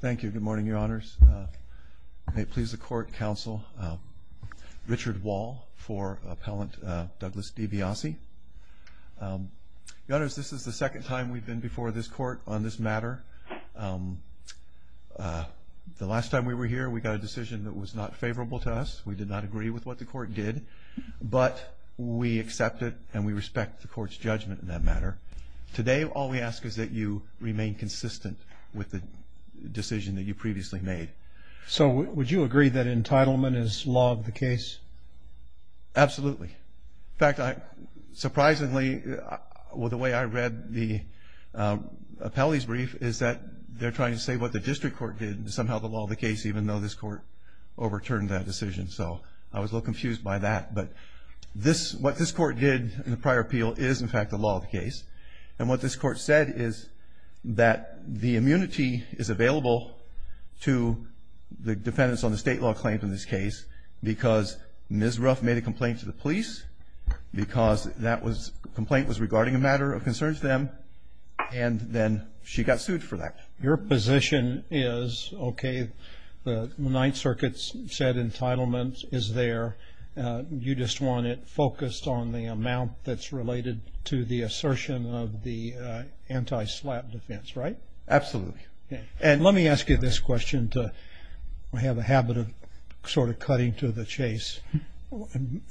Thank you. Good morning, Your Honors. May it please the Court, Counsel, Richard Wall for Appellant Douglas DiBiasi. Your Honors, this is the second time we've been before this Court on this matter. The last time we were here, we got a decision that was not favorable to us. We did not agree with what the Court did, but we accept it and we respect the Court's judgment in that matter. Today, all we ask is that you remain consistent with the decision that you previously made. So would you agree that entitlement is law of the case? Absolutely. In fact, surprisingly, with the way I read the appellee's brief, is that they're trying to say what the District Court did is somehow the law of the case, even though this Court overturned that decision, so I was a little confused by that. But what this Court did in the prior appeal is, in fact, the law of the case. And what this Court said is that the immunity is available to the defendants on the state law claims in this case because Ms. Ruff made a complaint to the police because that complaint was regarding a matter of concern to them, and then she got sued for that. Your position is, okay, the Ninth Circuit's said entitlement is there. You just want it focused on the amount that's related to the assertion of the anti-SLAPP defense, right? Absolutely. And let me ask you this question to have a habit of sort of cutting to the chase.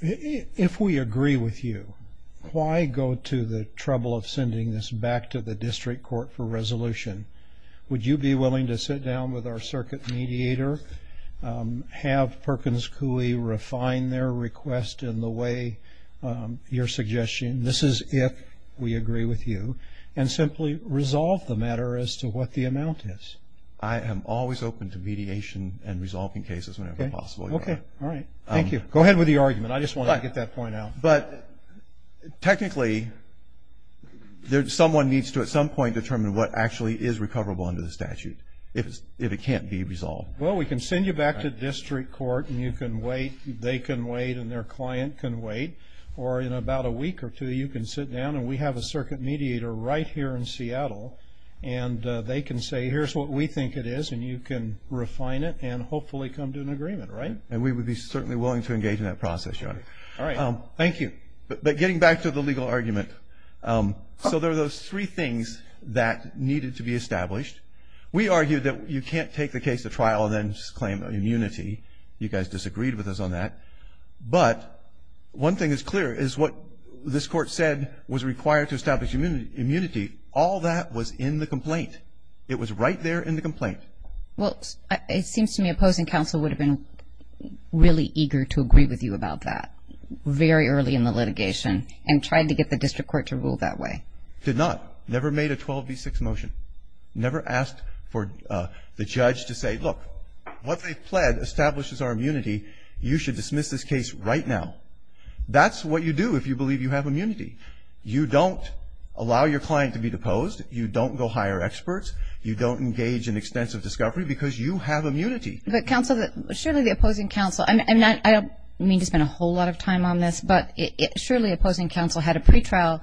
If we agree with you, why go to the trouble of sending this back to the District Court for resolution? Would you be willing to sit down with our circuit mediator, have Perkins Coie refine their request in the way you're suggesting? This is if we agree with you, and simply resolve the matter as to what the amount is. I am always open to mediation and resolving cases whenever possible. Okay, all right. Thank you. Go ahead with the argument. I just wanted to get that point out. But technically, someone needs to at some point determine what actually is recoverable under the statute if it can't be resolved. Well, we can send you back to District Court, and you can wait. They can wait, and their client can wait. Or in about a week or two, you can sit down, and we have a circuit mediator right here in Seattle, and they can say, here's what we think it is, and you can refine it and hopefully come to an agreement, right? And we would be certainly willing to engage in that process, Your Honor. All right. Thank you. But getting back to the legal argument, so there are those three things that needed to be established. We argued that you can't take the case to trial and then just claim immunity. You guys disagreed with us on that. But one thing is clear is what this Court said was required to establish immunity. All that was in the complaint. It was right there in the complaint. Well, it seems to me opposing counsel would have been really eager to agree with you about that very early in the litigation and tried to get the District Court to rule that way. Did not. Never made a 12B6 motion. Never asked for the judge to say, look, what they've pled establishes our immunity. You should dismiss this case right now. That's what you do if you believe you have immunity. You don't allow your client to be deposed. You don't go hire experts. You don't engage in extensive discovery because you have immunity. But counsel, surely the opposing counsel, and I don't mean to spend a whole lot of time on this, but surely opposing counsel had a pretrial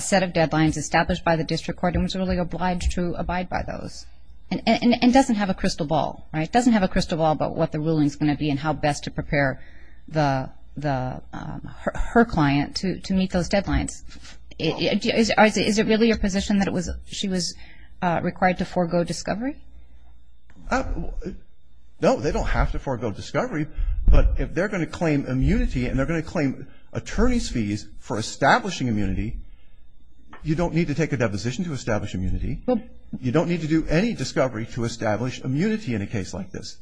set of deadlines established by the District Court and was really obliged to abide by those. And doesn't have a crystal ball, right? Doesn't have a crystal ball about what the ruling is going to be and how best to prepare her client to meet those deadlines. Is it really your position that she was required to forego discovery? No, they don't have to forego discovery. But if they're going to claim immunity and they're going to claim attorney's fees for establishing immunity, you don't need to take a deposition to establish immunity. You don't need to do any discovery to establish immunity in a case like this.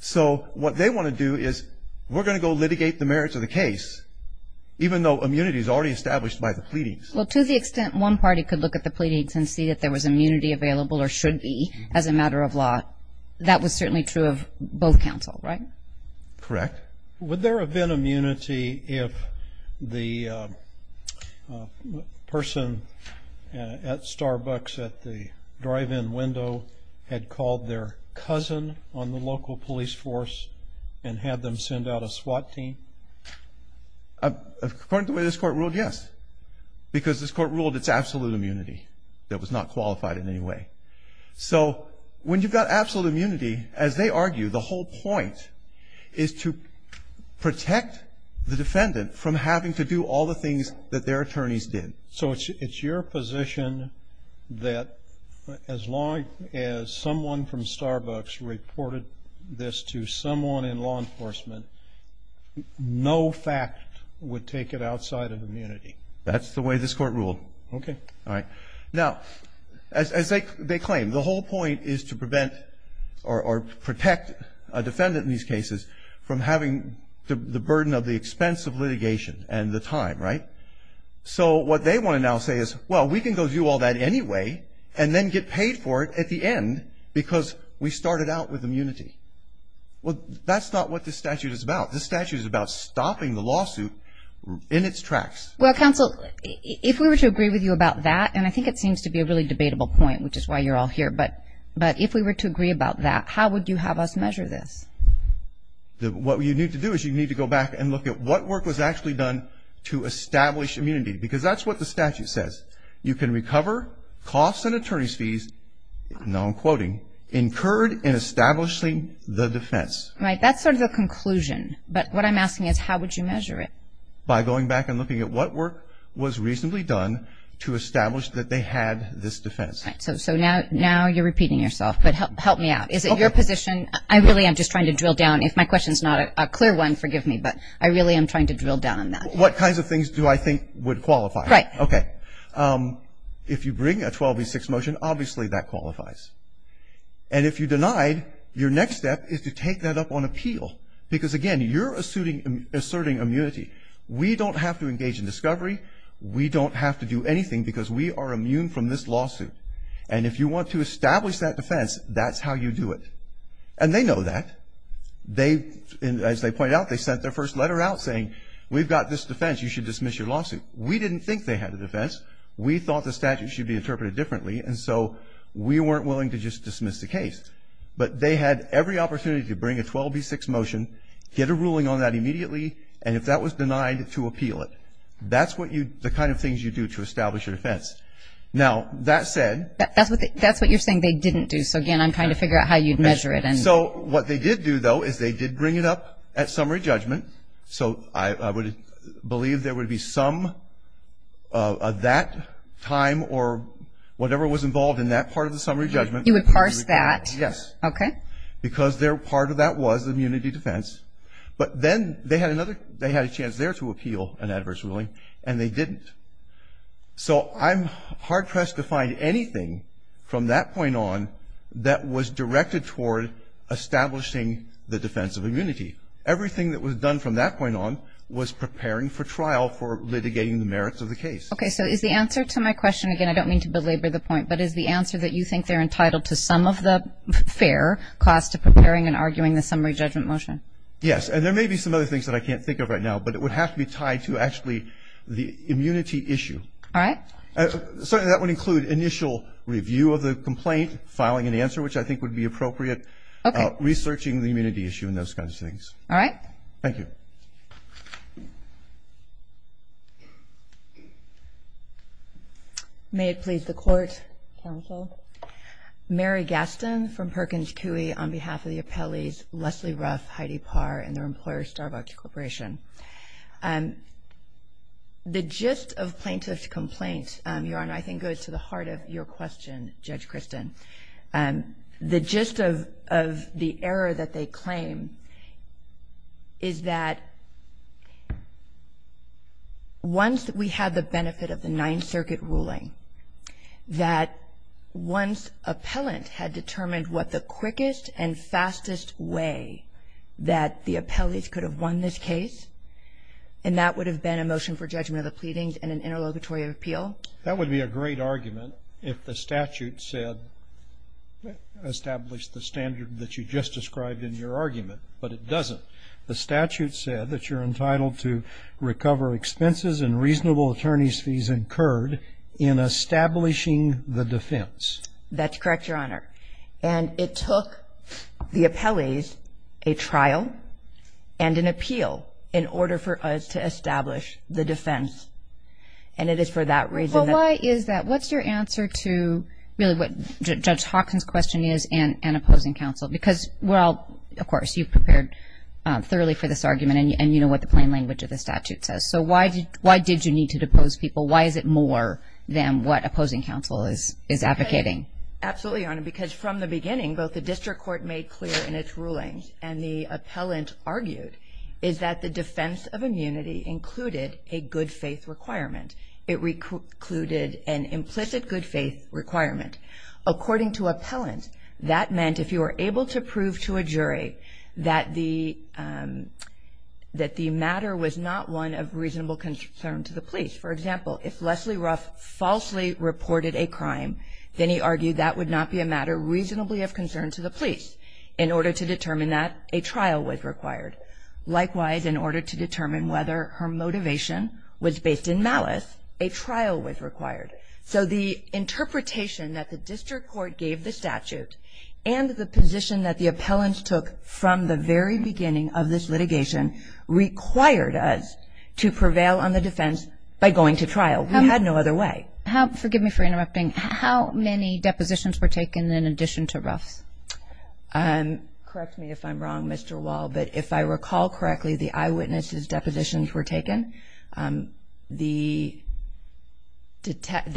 So what they want to do is we're going to go litigate the merits of the case, even though immunity is already established by the pleadings. Well, to the extent one party could look at the pleadings and see if there was immunity available or should be as a matter of law, that was certainly true of both counsel, right? Correct. Would there have been immunity if the person at Starbucks at the drive-in window had called their cousin on the local police force and had them send out a SWAT team? According to the way this Court ruled, yes, because this Court ruled it's absolute immunity that was not qualified in any way. So when you've got absolute immunity, as they argue, the whole point is to protect the defendant from having to do all the things that their attorneys did. So it's your position that as long as someone from Starbucks reported this to someone in law enforcement, no fact would take it outside of immunity? That's the way this Court ruled. Okay. All right. Now, as they claim, the whole point is to prevent or protect a defendant in these cases from having the burden of the expense of litigation and the time, right? So what they want to now say is, well, we can go do all that anyway and then get paid for it at the end because we started out with immunity. Well, that's not what this statute is about. This statute is about stopping the lawsuit in its tracks. Well, counsel, if we were to agree with you about that, and I think it seems to be a really debatable point, which is why you're all here, but if we were to agree about that, how would you have us measure this? What you need to do is you need to go back and look at what work was actually done to establish immunity because that's what the statute says. You can recover costs and attorney's fees, now I'm quoting, incurred in establishing the defense. Right. That's sort of the conclusion, but what I'm asking is how would you measure it? By going back and looking at what work was reasonably done to establish that they had this defense. So now you're repeating yourself, but help me out. Is it your position? I really am just trying to drill down. If my question's not a clear one, forgive me, but I really am trying to drill down on that. What kinds of things do I think would qualify? Right. Okay. If you bring a 12v6 motion, obviously that qualifies. And if you denied, your next step is to take that up on appeal because, again, you're asserting immunity. We don't have to engage in discovery. We don't have to do anything because we are immune from this lawsuit. And if you want to establish that defense, that's how you do it. And they know that. They, as they point out, they sent their first letter out saying we've got this defense. You should dismiss your lawsuit. We didn't think they had a defense. We thought the statute should be interpreted differently, and so we weren't willing to just dismiss the case. But they had every opportunity to bring a 12v6 motion, get a ruling on that immediately, and if that was denied, to appeal it. That's what you, the kind of things you do to establish your defense. Now, that said. That's what you're saying they didn't do. So, again, I'm trying to figure out how you'd measure it. So what they did do, though, is they did bring it up at summary judgment. So I would believe there would be some of that time or whatever was involved in that part of the summary judgment. You would parse that. Yes. Okay. Because part of that was immunity defense. But then they had another, they had a chance there to appeal an adverse ruling, and they didn't. So I'm hard pressed to find anything from that point on that was directed toward establishing the defense of immunity. Everything that was done from that point on was preparing for trial for litigating the merits of the case. Okay. So is the answer to my question, again, I don't mean to belabor the point, but is the answer that you think they're entitled to some of the fair cost of preparing and arguing the summary judgment motion? Yes. And there may be some other things that I can't think of right now, but it would have to be tied to actually the immunity issue. All right. Certainly that would include initial review of the complaint, filing an answer, which I think would be appropriate. Okay. Researching the immunity issue and those kinds of things. All right. Thank you. Thank you. May it please the Court. Counsel. Mary Gaston from Perkins Coie on behalf of the appellees Leslie Ruff, Heidi Parr, and their employer, Starbucks Corporation. The gist of plaintiff's complaint, Your Honor, I think goes to the heart of your question, Judge Kristen. The gist of the error that they claim is that once we had the benefit of the Ninth Circuit ruling, that once appellant had determined what the quickest and fastest way that the appellees could have won this case, and that would have been a motion for judgment of the pleadings and an interlocutory appeal? That would be a great argument if the statute said, established the standard that you just described in your argument, but it doesn't. The statute said that you're entitled to recover expenses and reasonable attorney's fees incurred in establishing the defense. That's correct, Your Honor, and it took the appellees a trial and an appeal in order for us to establish the defense, and it is for that reason that... Well, why is that? What's your answer to really what Judge Hawkins' question is and opposing counsel? Because, well, of course, you've prepared thoroughly for this argument, and you know what the plain language of the statute says, so why did you need to depose people? Why is it more than what opposing counsel is advocating? Absolutely, Your Honor, because from the beginning, both the district court made clear in its rulings and the appellant argued is that the defense of immunity included a good faith requirement. It included an implicit good faith requirement. According to appellant, that meant if you were able to prove to a jury that the matter was not one of reasonable concern to the police. For example, if Leslie Ruff falsely reported a crime, then he argued that would not be a matter reasonably of concern to the police. In order to determine that, a trial was required. Likewise, in order to determine whether her motivation was based in malice, a trial was required. So the interpretation that the district court gave the statute and the position that the appellants took from the very beginning of this litigation required us to prevail on the defense by going to trial. We had no other way. Forgive me for interrupting. How many depositions were taken in addition to Ruff's? Correct me if I'm wrong, Mr. Wall, but if I recall correctly, the eyewitnesses' depositions were taken. There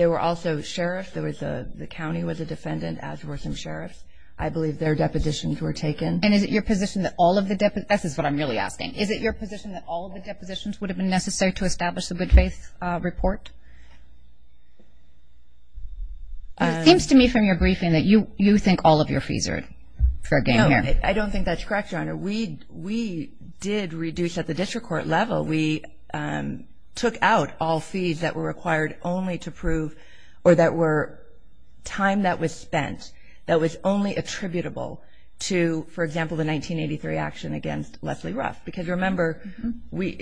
were also sheriffs. The county was a defendant, as were some sheriffs. I believe their depositions were taken. And is it your position that all of the – that's what I'm really asking. Is it your position that all of the depositions would have been necessary to establish a good faith report? It seems to me from your briefing that you think all of your fees are fair game here. No, I don't think that's correct, Your Honor. We did reduce at the district court level. We took out all fees that were required only to prove or that were time that was spent that was only attributable to, for example, the 1983 action against Leslie Ruff. Because remember,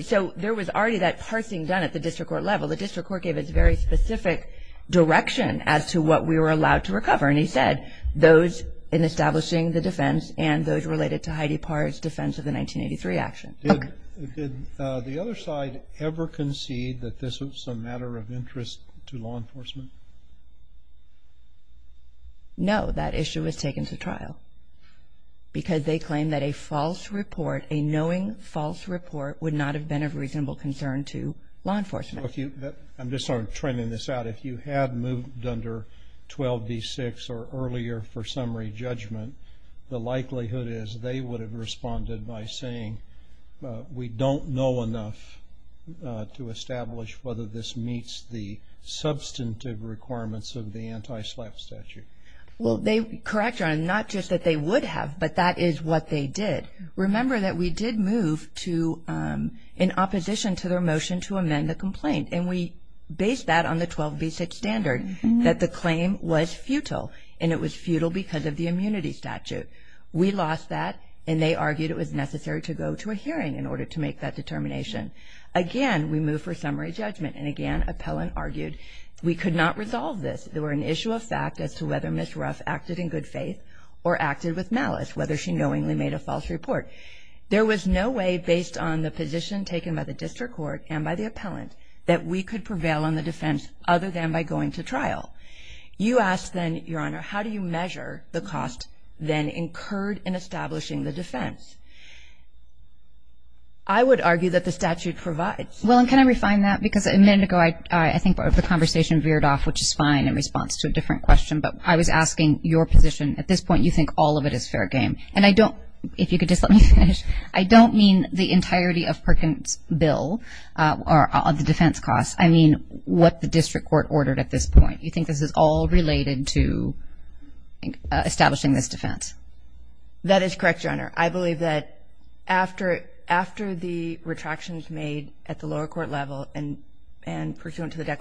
so there was already that parsing done at the district court level. The district court gave us very specific direction as to what we were allowed to recover, and he said those in establishing the defense and those related to Heidi Parr's defense of the 1983 action. Did the other side ever concede that this was a matter of interest to law enforcement? No, that issue was taken to trial because they claimed that a false report, a knowing false report would not have been of reasonable concern to law enforcement. I'm just sort of trending this out. If you had moved under 12b-6 or earlier for summary judgment, the likelihood is they would have responded by saying, we don't know enough to establish whether this meets the substantive requirements of the anti-SLAPP statute. Well, correct, Your Honor, not just that they would have, but that is what they did. Remember that we did move in opposition to their motion to amend the complaint, and we based that on the 12b-6 standard, that the claim was futile, and it was futile because of the immunity statute. We lost that, and they argued it was necessary to go to a hearing in order to make that determination. Again, we moved for summary judgment, and again, appellant argued we could not resolve this. There were an issue of fact as to whether Ms. Ruff acted in good faith or acted with malice, whether she knowingly made a false report. There was no way, based on the position taken by the district court and by the appellant, that we could prevail on the defense other than by going to trial. You asked then, Your Honor, how do you measure the cost then incurred in establishing the defense? I would argue that the statute provides. Well, and can I refine that? Because a minute ago, I think the conversation veered off, which is fine, in response to a different question, but I was asking your position. At this point, you think all of it is fair game. And I don't, if you could just let me finish, I don't mean the entirety of Perkins' bill or the defense cost. I mean what the district court ordered at this point. You think this is all related to establishing this defense? That is correct, Your Honor. I believe that after the retractions made at the lower court level and pursuant to the I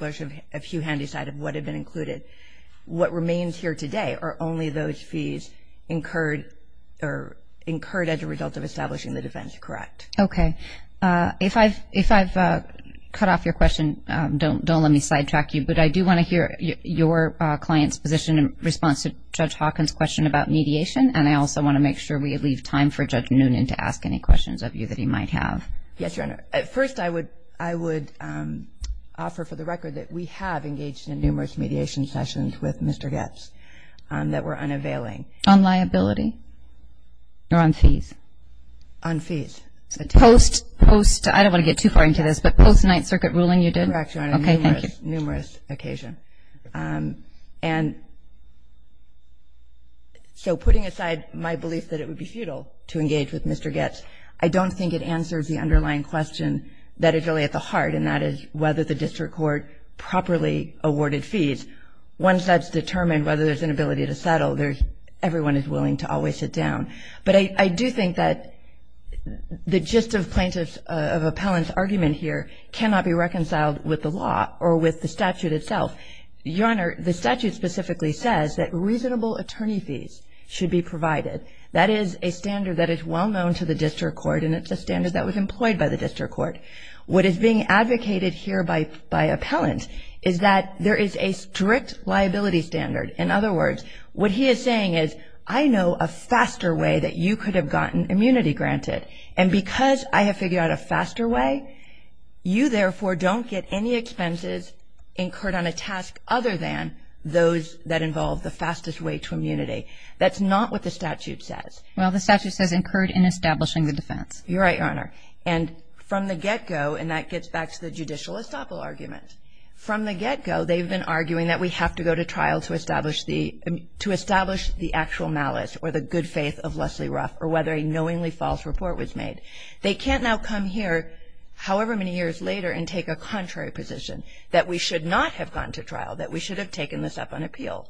do want to hear your client's position in response to Judge Hawkins' question about mediation. And I also want to make sure we leave time for Judge Noonan to ask any questions of you that he might have. Yes, Your Honor. First, I would offer for the record that we have engaged in numerous mediation sessions with Mr. Getz. That were unavailing. On liability or on fees? On fees. Post, I don't want to get too far into this, but post-Ninth Circuit ruling you did? Correct, Your Honor. Okay, thank you. Numerous occasion. And so putting aside my belief that it would be futile to engage with Mr. Getz, I don't think it answers the underlying question that is really at the heart, and that is whether the district court properly awarded fees. Once that's determined, whether there's an ability to settle, everyone is willing to always sit down. But I do think that the gist of plaintiff's, of appellant's argument here cannot be reconciled with the law or with the statute itself. Your Honor, the statute specifically says that reasonable attorney fees should be provided. That is a standard that is well known to the district court, and it's a standard that was employed by the district court. What is being advocated here by appellant is that there is a strict liability standard. In other words, what he is saying is I know a faster way that you could have gotten immunity granted, and because I have figured out a faster way, you, therefore, don't get any expenses incurred on a task other than those that involve the fastest way to immunity. That's not what the statute says. Well, the statute says incurred in establishing the defense. You're right, Your Honor. And from the get-go, and that gets back to the judicial estoppel argument, from the get-go they've been arguing that we have to go to trial to establish the actual malice or the good faith of Leslie Ruff or whether a knowingly false report was made. They can't now come here however many years later and take a contrary position, that we should not have gone to trial, that we should have taken this up on appeal.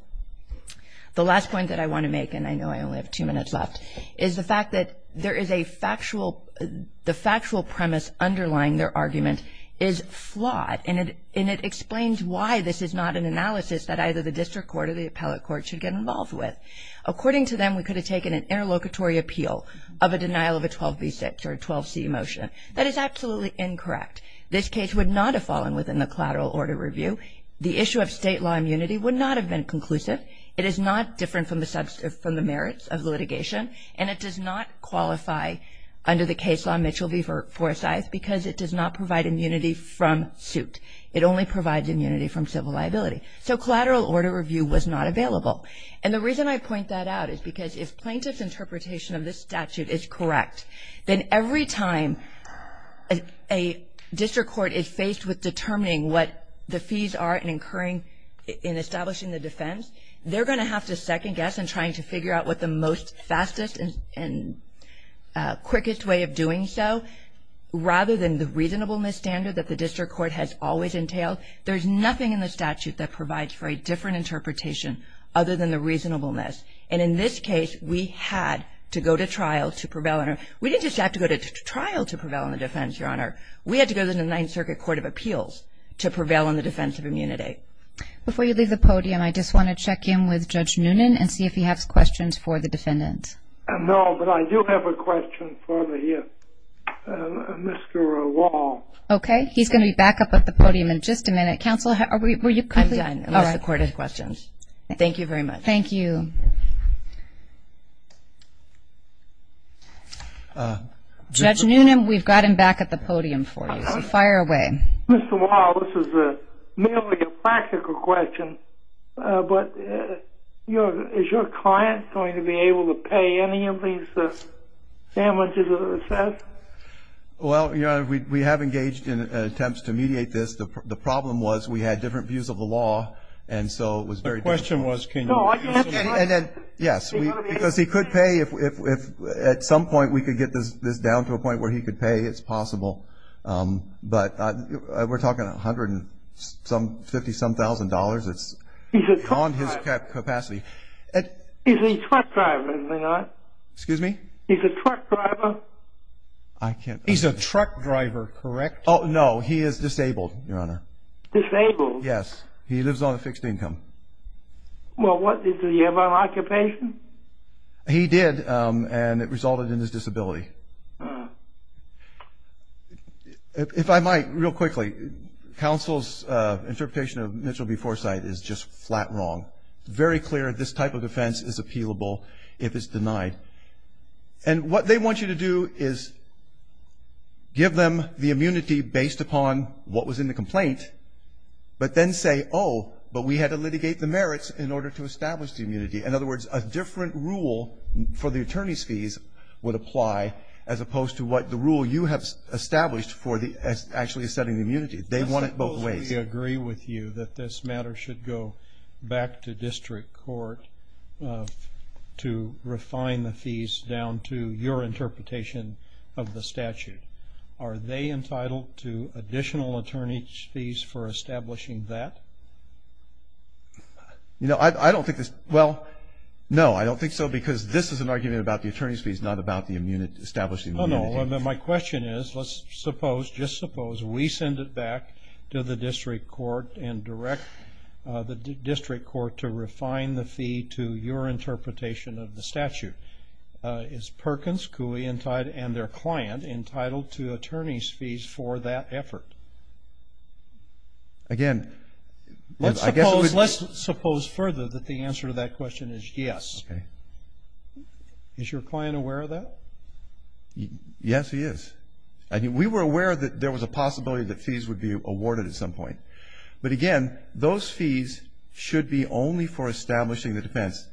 The last point that I want to make, and I know I only have two minutes left, is the fact that there is a factual, the factual premise underlying their argument is flawed, and it explains why this is not an analysis that either the district court or the appellate court should get involved with. According to them, we could have taken an interlocutory appeal of a denial of a 12b6 or 12c motion. That is absolutely incorrect. This case would not have fallen within the collateral order review. The issue of state law immunity would not have been conclusive. It is not different from the merits of the litigation, and it does not qualify under the case law Mitchell v. Forsyth because it does not provide immunity from suit. It only provides immunity from civil liability. So collateral order review was not available. And the reason I point that out is because if plaintiff's interpretation of this statute is correct, then every time a district court is faced with determining what the fees are in establishing the defense, they're going to have to second guess in trying to figure out what the most fastest and quickest way of doing so, rather than the reasonableness standard that the district court has always entailed. There's nothing in the statute that provides for a different interpretation other than the reasonableness. And in this case, we had to go to trial to prevail. We didn't just have to go to trial to prevail on the defense, Your Honor. We had to go to the Ninth Circuit Court of Appeals to prevail on the defense of immunity. Before you leave the podium, I just want to check in with Judge Noonan and see if he has questions for the defendant. No, but I do have a question for you, Mr. Wall. Okay. He's going to be back up at the podium in just a minute. Counsel, were you complete? I'm done, unless the court has questions. Thank you very much. Thank you. Thank you. Judge Noonan, we've got him back at the podium for you, so fire away. Mr. Wall, this is merely a practical question, but is your client going to be able to pay any of these damages that are assessed? Well, Your Honor, we have engaged in attempts to mediate this. The problem was we had different views of the law, and so it was very difficult. My question was can you see any? Yes, because he could pay. If at some point we could get this down to a point where he could pay, it's possible. But we're talking $150-some-thousand. It's beyond his capacity. Is he a truck driver, is he not? Excuse me? Is he a truck driver? He's a truck driver, correct? No, he is disabled, Your Honor. Disabled? Yes. He lives on a fixed income. Well, does he have an occupation? He did, and it resulted in his disability. If I might, real quickly, counsel's interpretation of Mitchell v. Forsythe is just flat wrong. It's very clear this type of defense is appealable if it's denied. And what they want you to do is give them the immunity based upon what was in the complaint, but then say, oh, but we had to litigate the merits in order to establish the immunity. In other words, a different rule for the attorney's fees would apply, as opposed to what the rule you have established for actually setting the immunity. They want it both ways. Counsel, we agree with you that this matter should go back to district court to refine the fees down to your interpretation of the statute. Are they entitled to additional attorney's fees for establishing that? No, I don't think so, because this is an argument about the attorney's fees, not about establishing the immunity. No, no. My question is, let's suppose, just suppose we send it back to the district court and direct the district court to refine the fee to your interpretation of the statute. Is Perkins, Cooley, and their client entitled to attorney's fees for that effort? Again, I guess it would be. Let's suppose further that the answer to that question is yes. Okay. Is your client aware of that? Yes, he is. We were aware that there was a possibility that fees would be awarded at some point. But, again, those fees should be only for establishing the defense.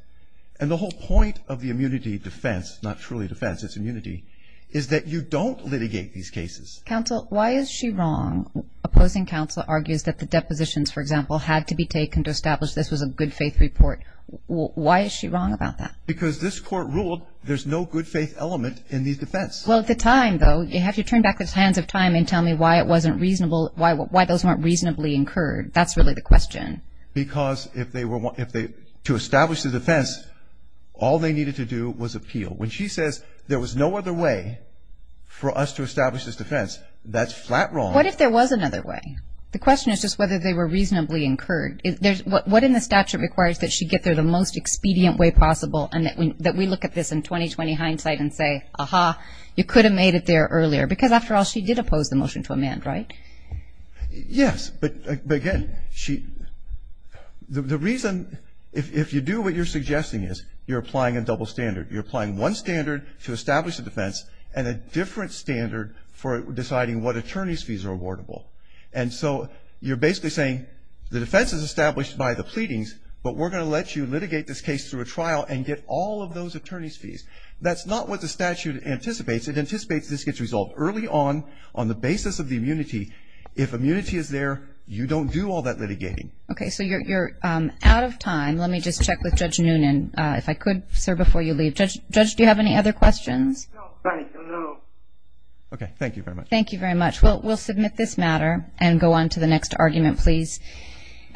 And the whole point of the immunity defense, not truly defense, it's immunity, is that you don't litigate these cases. Counsel, why is she wrong? Opposing counsel argues that the depositions, for example, had to be taken to establish this was a good faith report. Why is she wrong about that? Because this court ruled there's no good faith element in these defense. Well, at the time, though, you have to turn back the hands of time and tell me why it wasn't reasonable, why those weren't reasonably incurred. That's really the question. Because to establish the defense, all they needed to do was appeal. When she says there was no other way for us to establish this defense, that's flat wrong. What if there was another way? The question is just whether they were reasonably incurred. What in the statute requires that she get there the most expedient way possible and that we look at this in 20-20 hindsight and say, aha, you could have made it there earlier? Because, after all, she did oppose the motion to amend, right? Yes. But, again, the reason if you do what you're suggesting is you're applying a double standard. You're applying one standard to establish a defense and a different standard for deciding what attorney's fees are awardable. And so you're basically saying the defense is established by the pleadings, but we're going to let you litigate this case through a trial and get all of those attorney's fees. That's not what the statute anticipates. It anticipates this gets resolved early on, on the basis of the immunity. If immunity is there, you don't do all that litigating. Okay. So you're out of time. Let me just check with Judge Noonan, if I could, sir, before you leave. Judge, do you have any other questions? No. Okay. Thank you very much. Thank you very much. We'll submit this matter and go on to the next argument, please.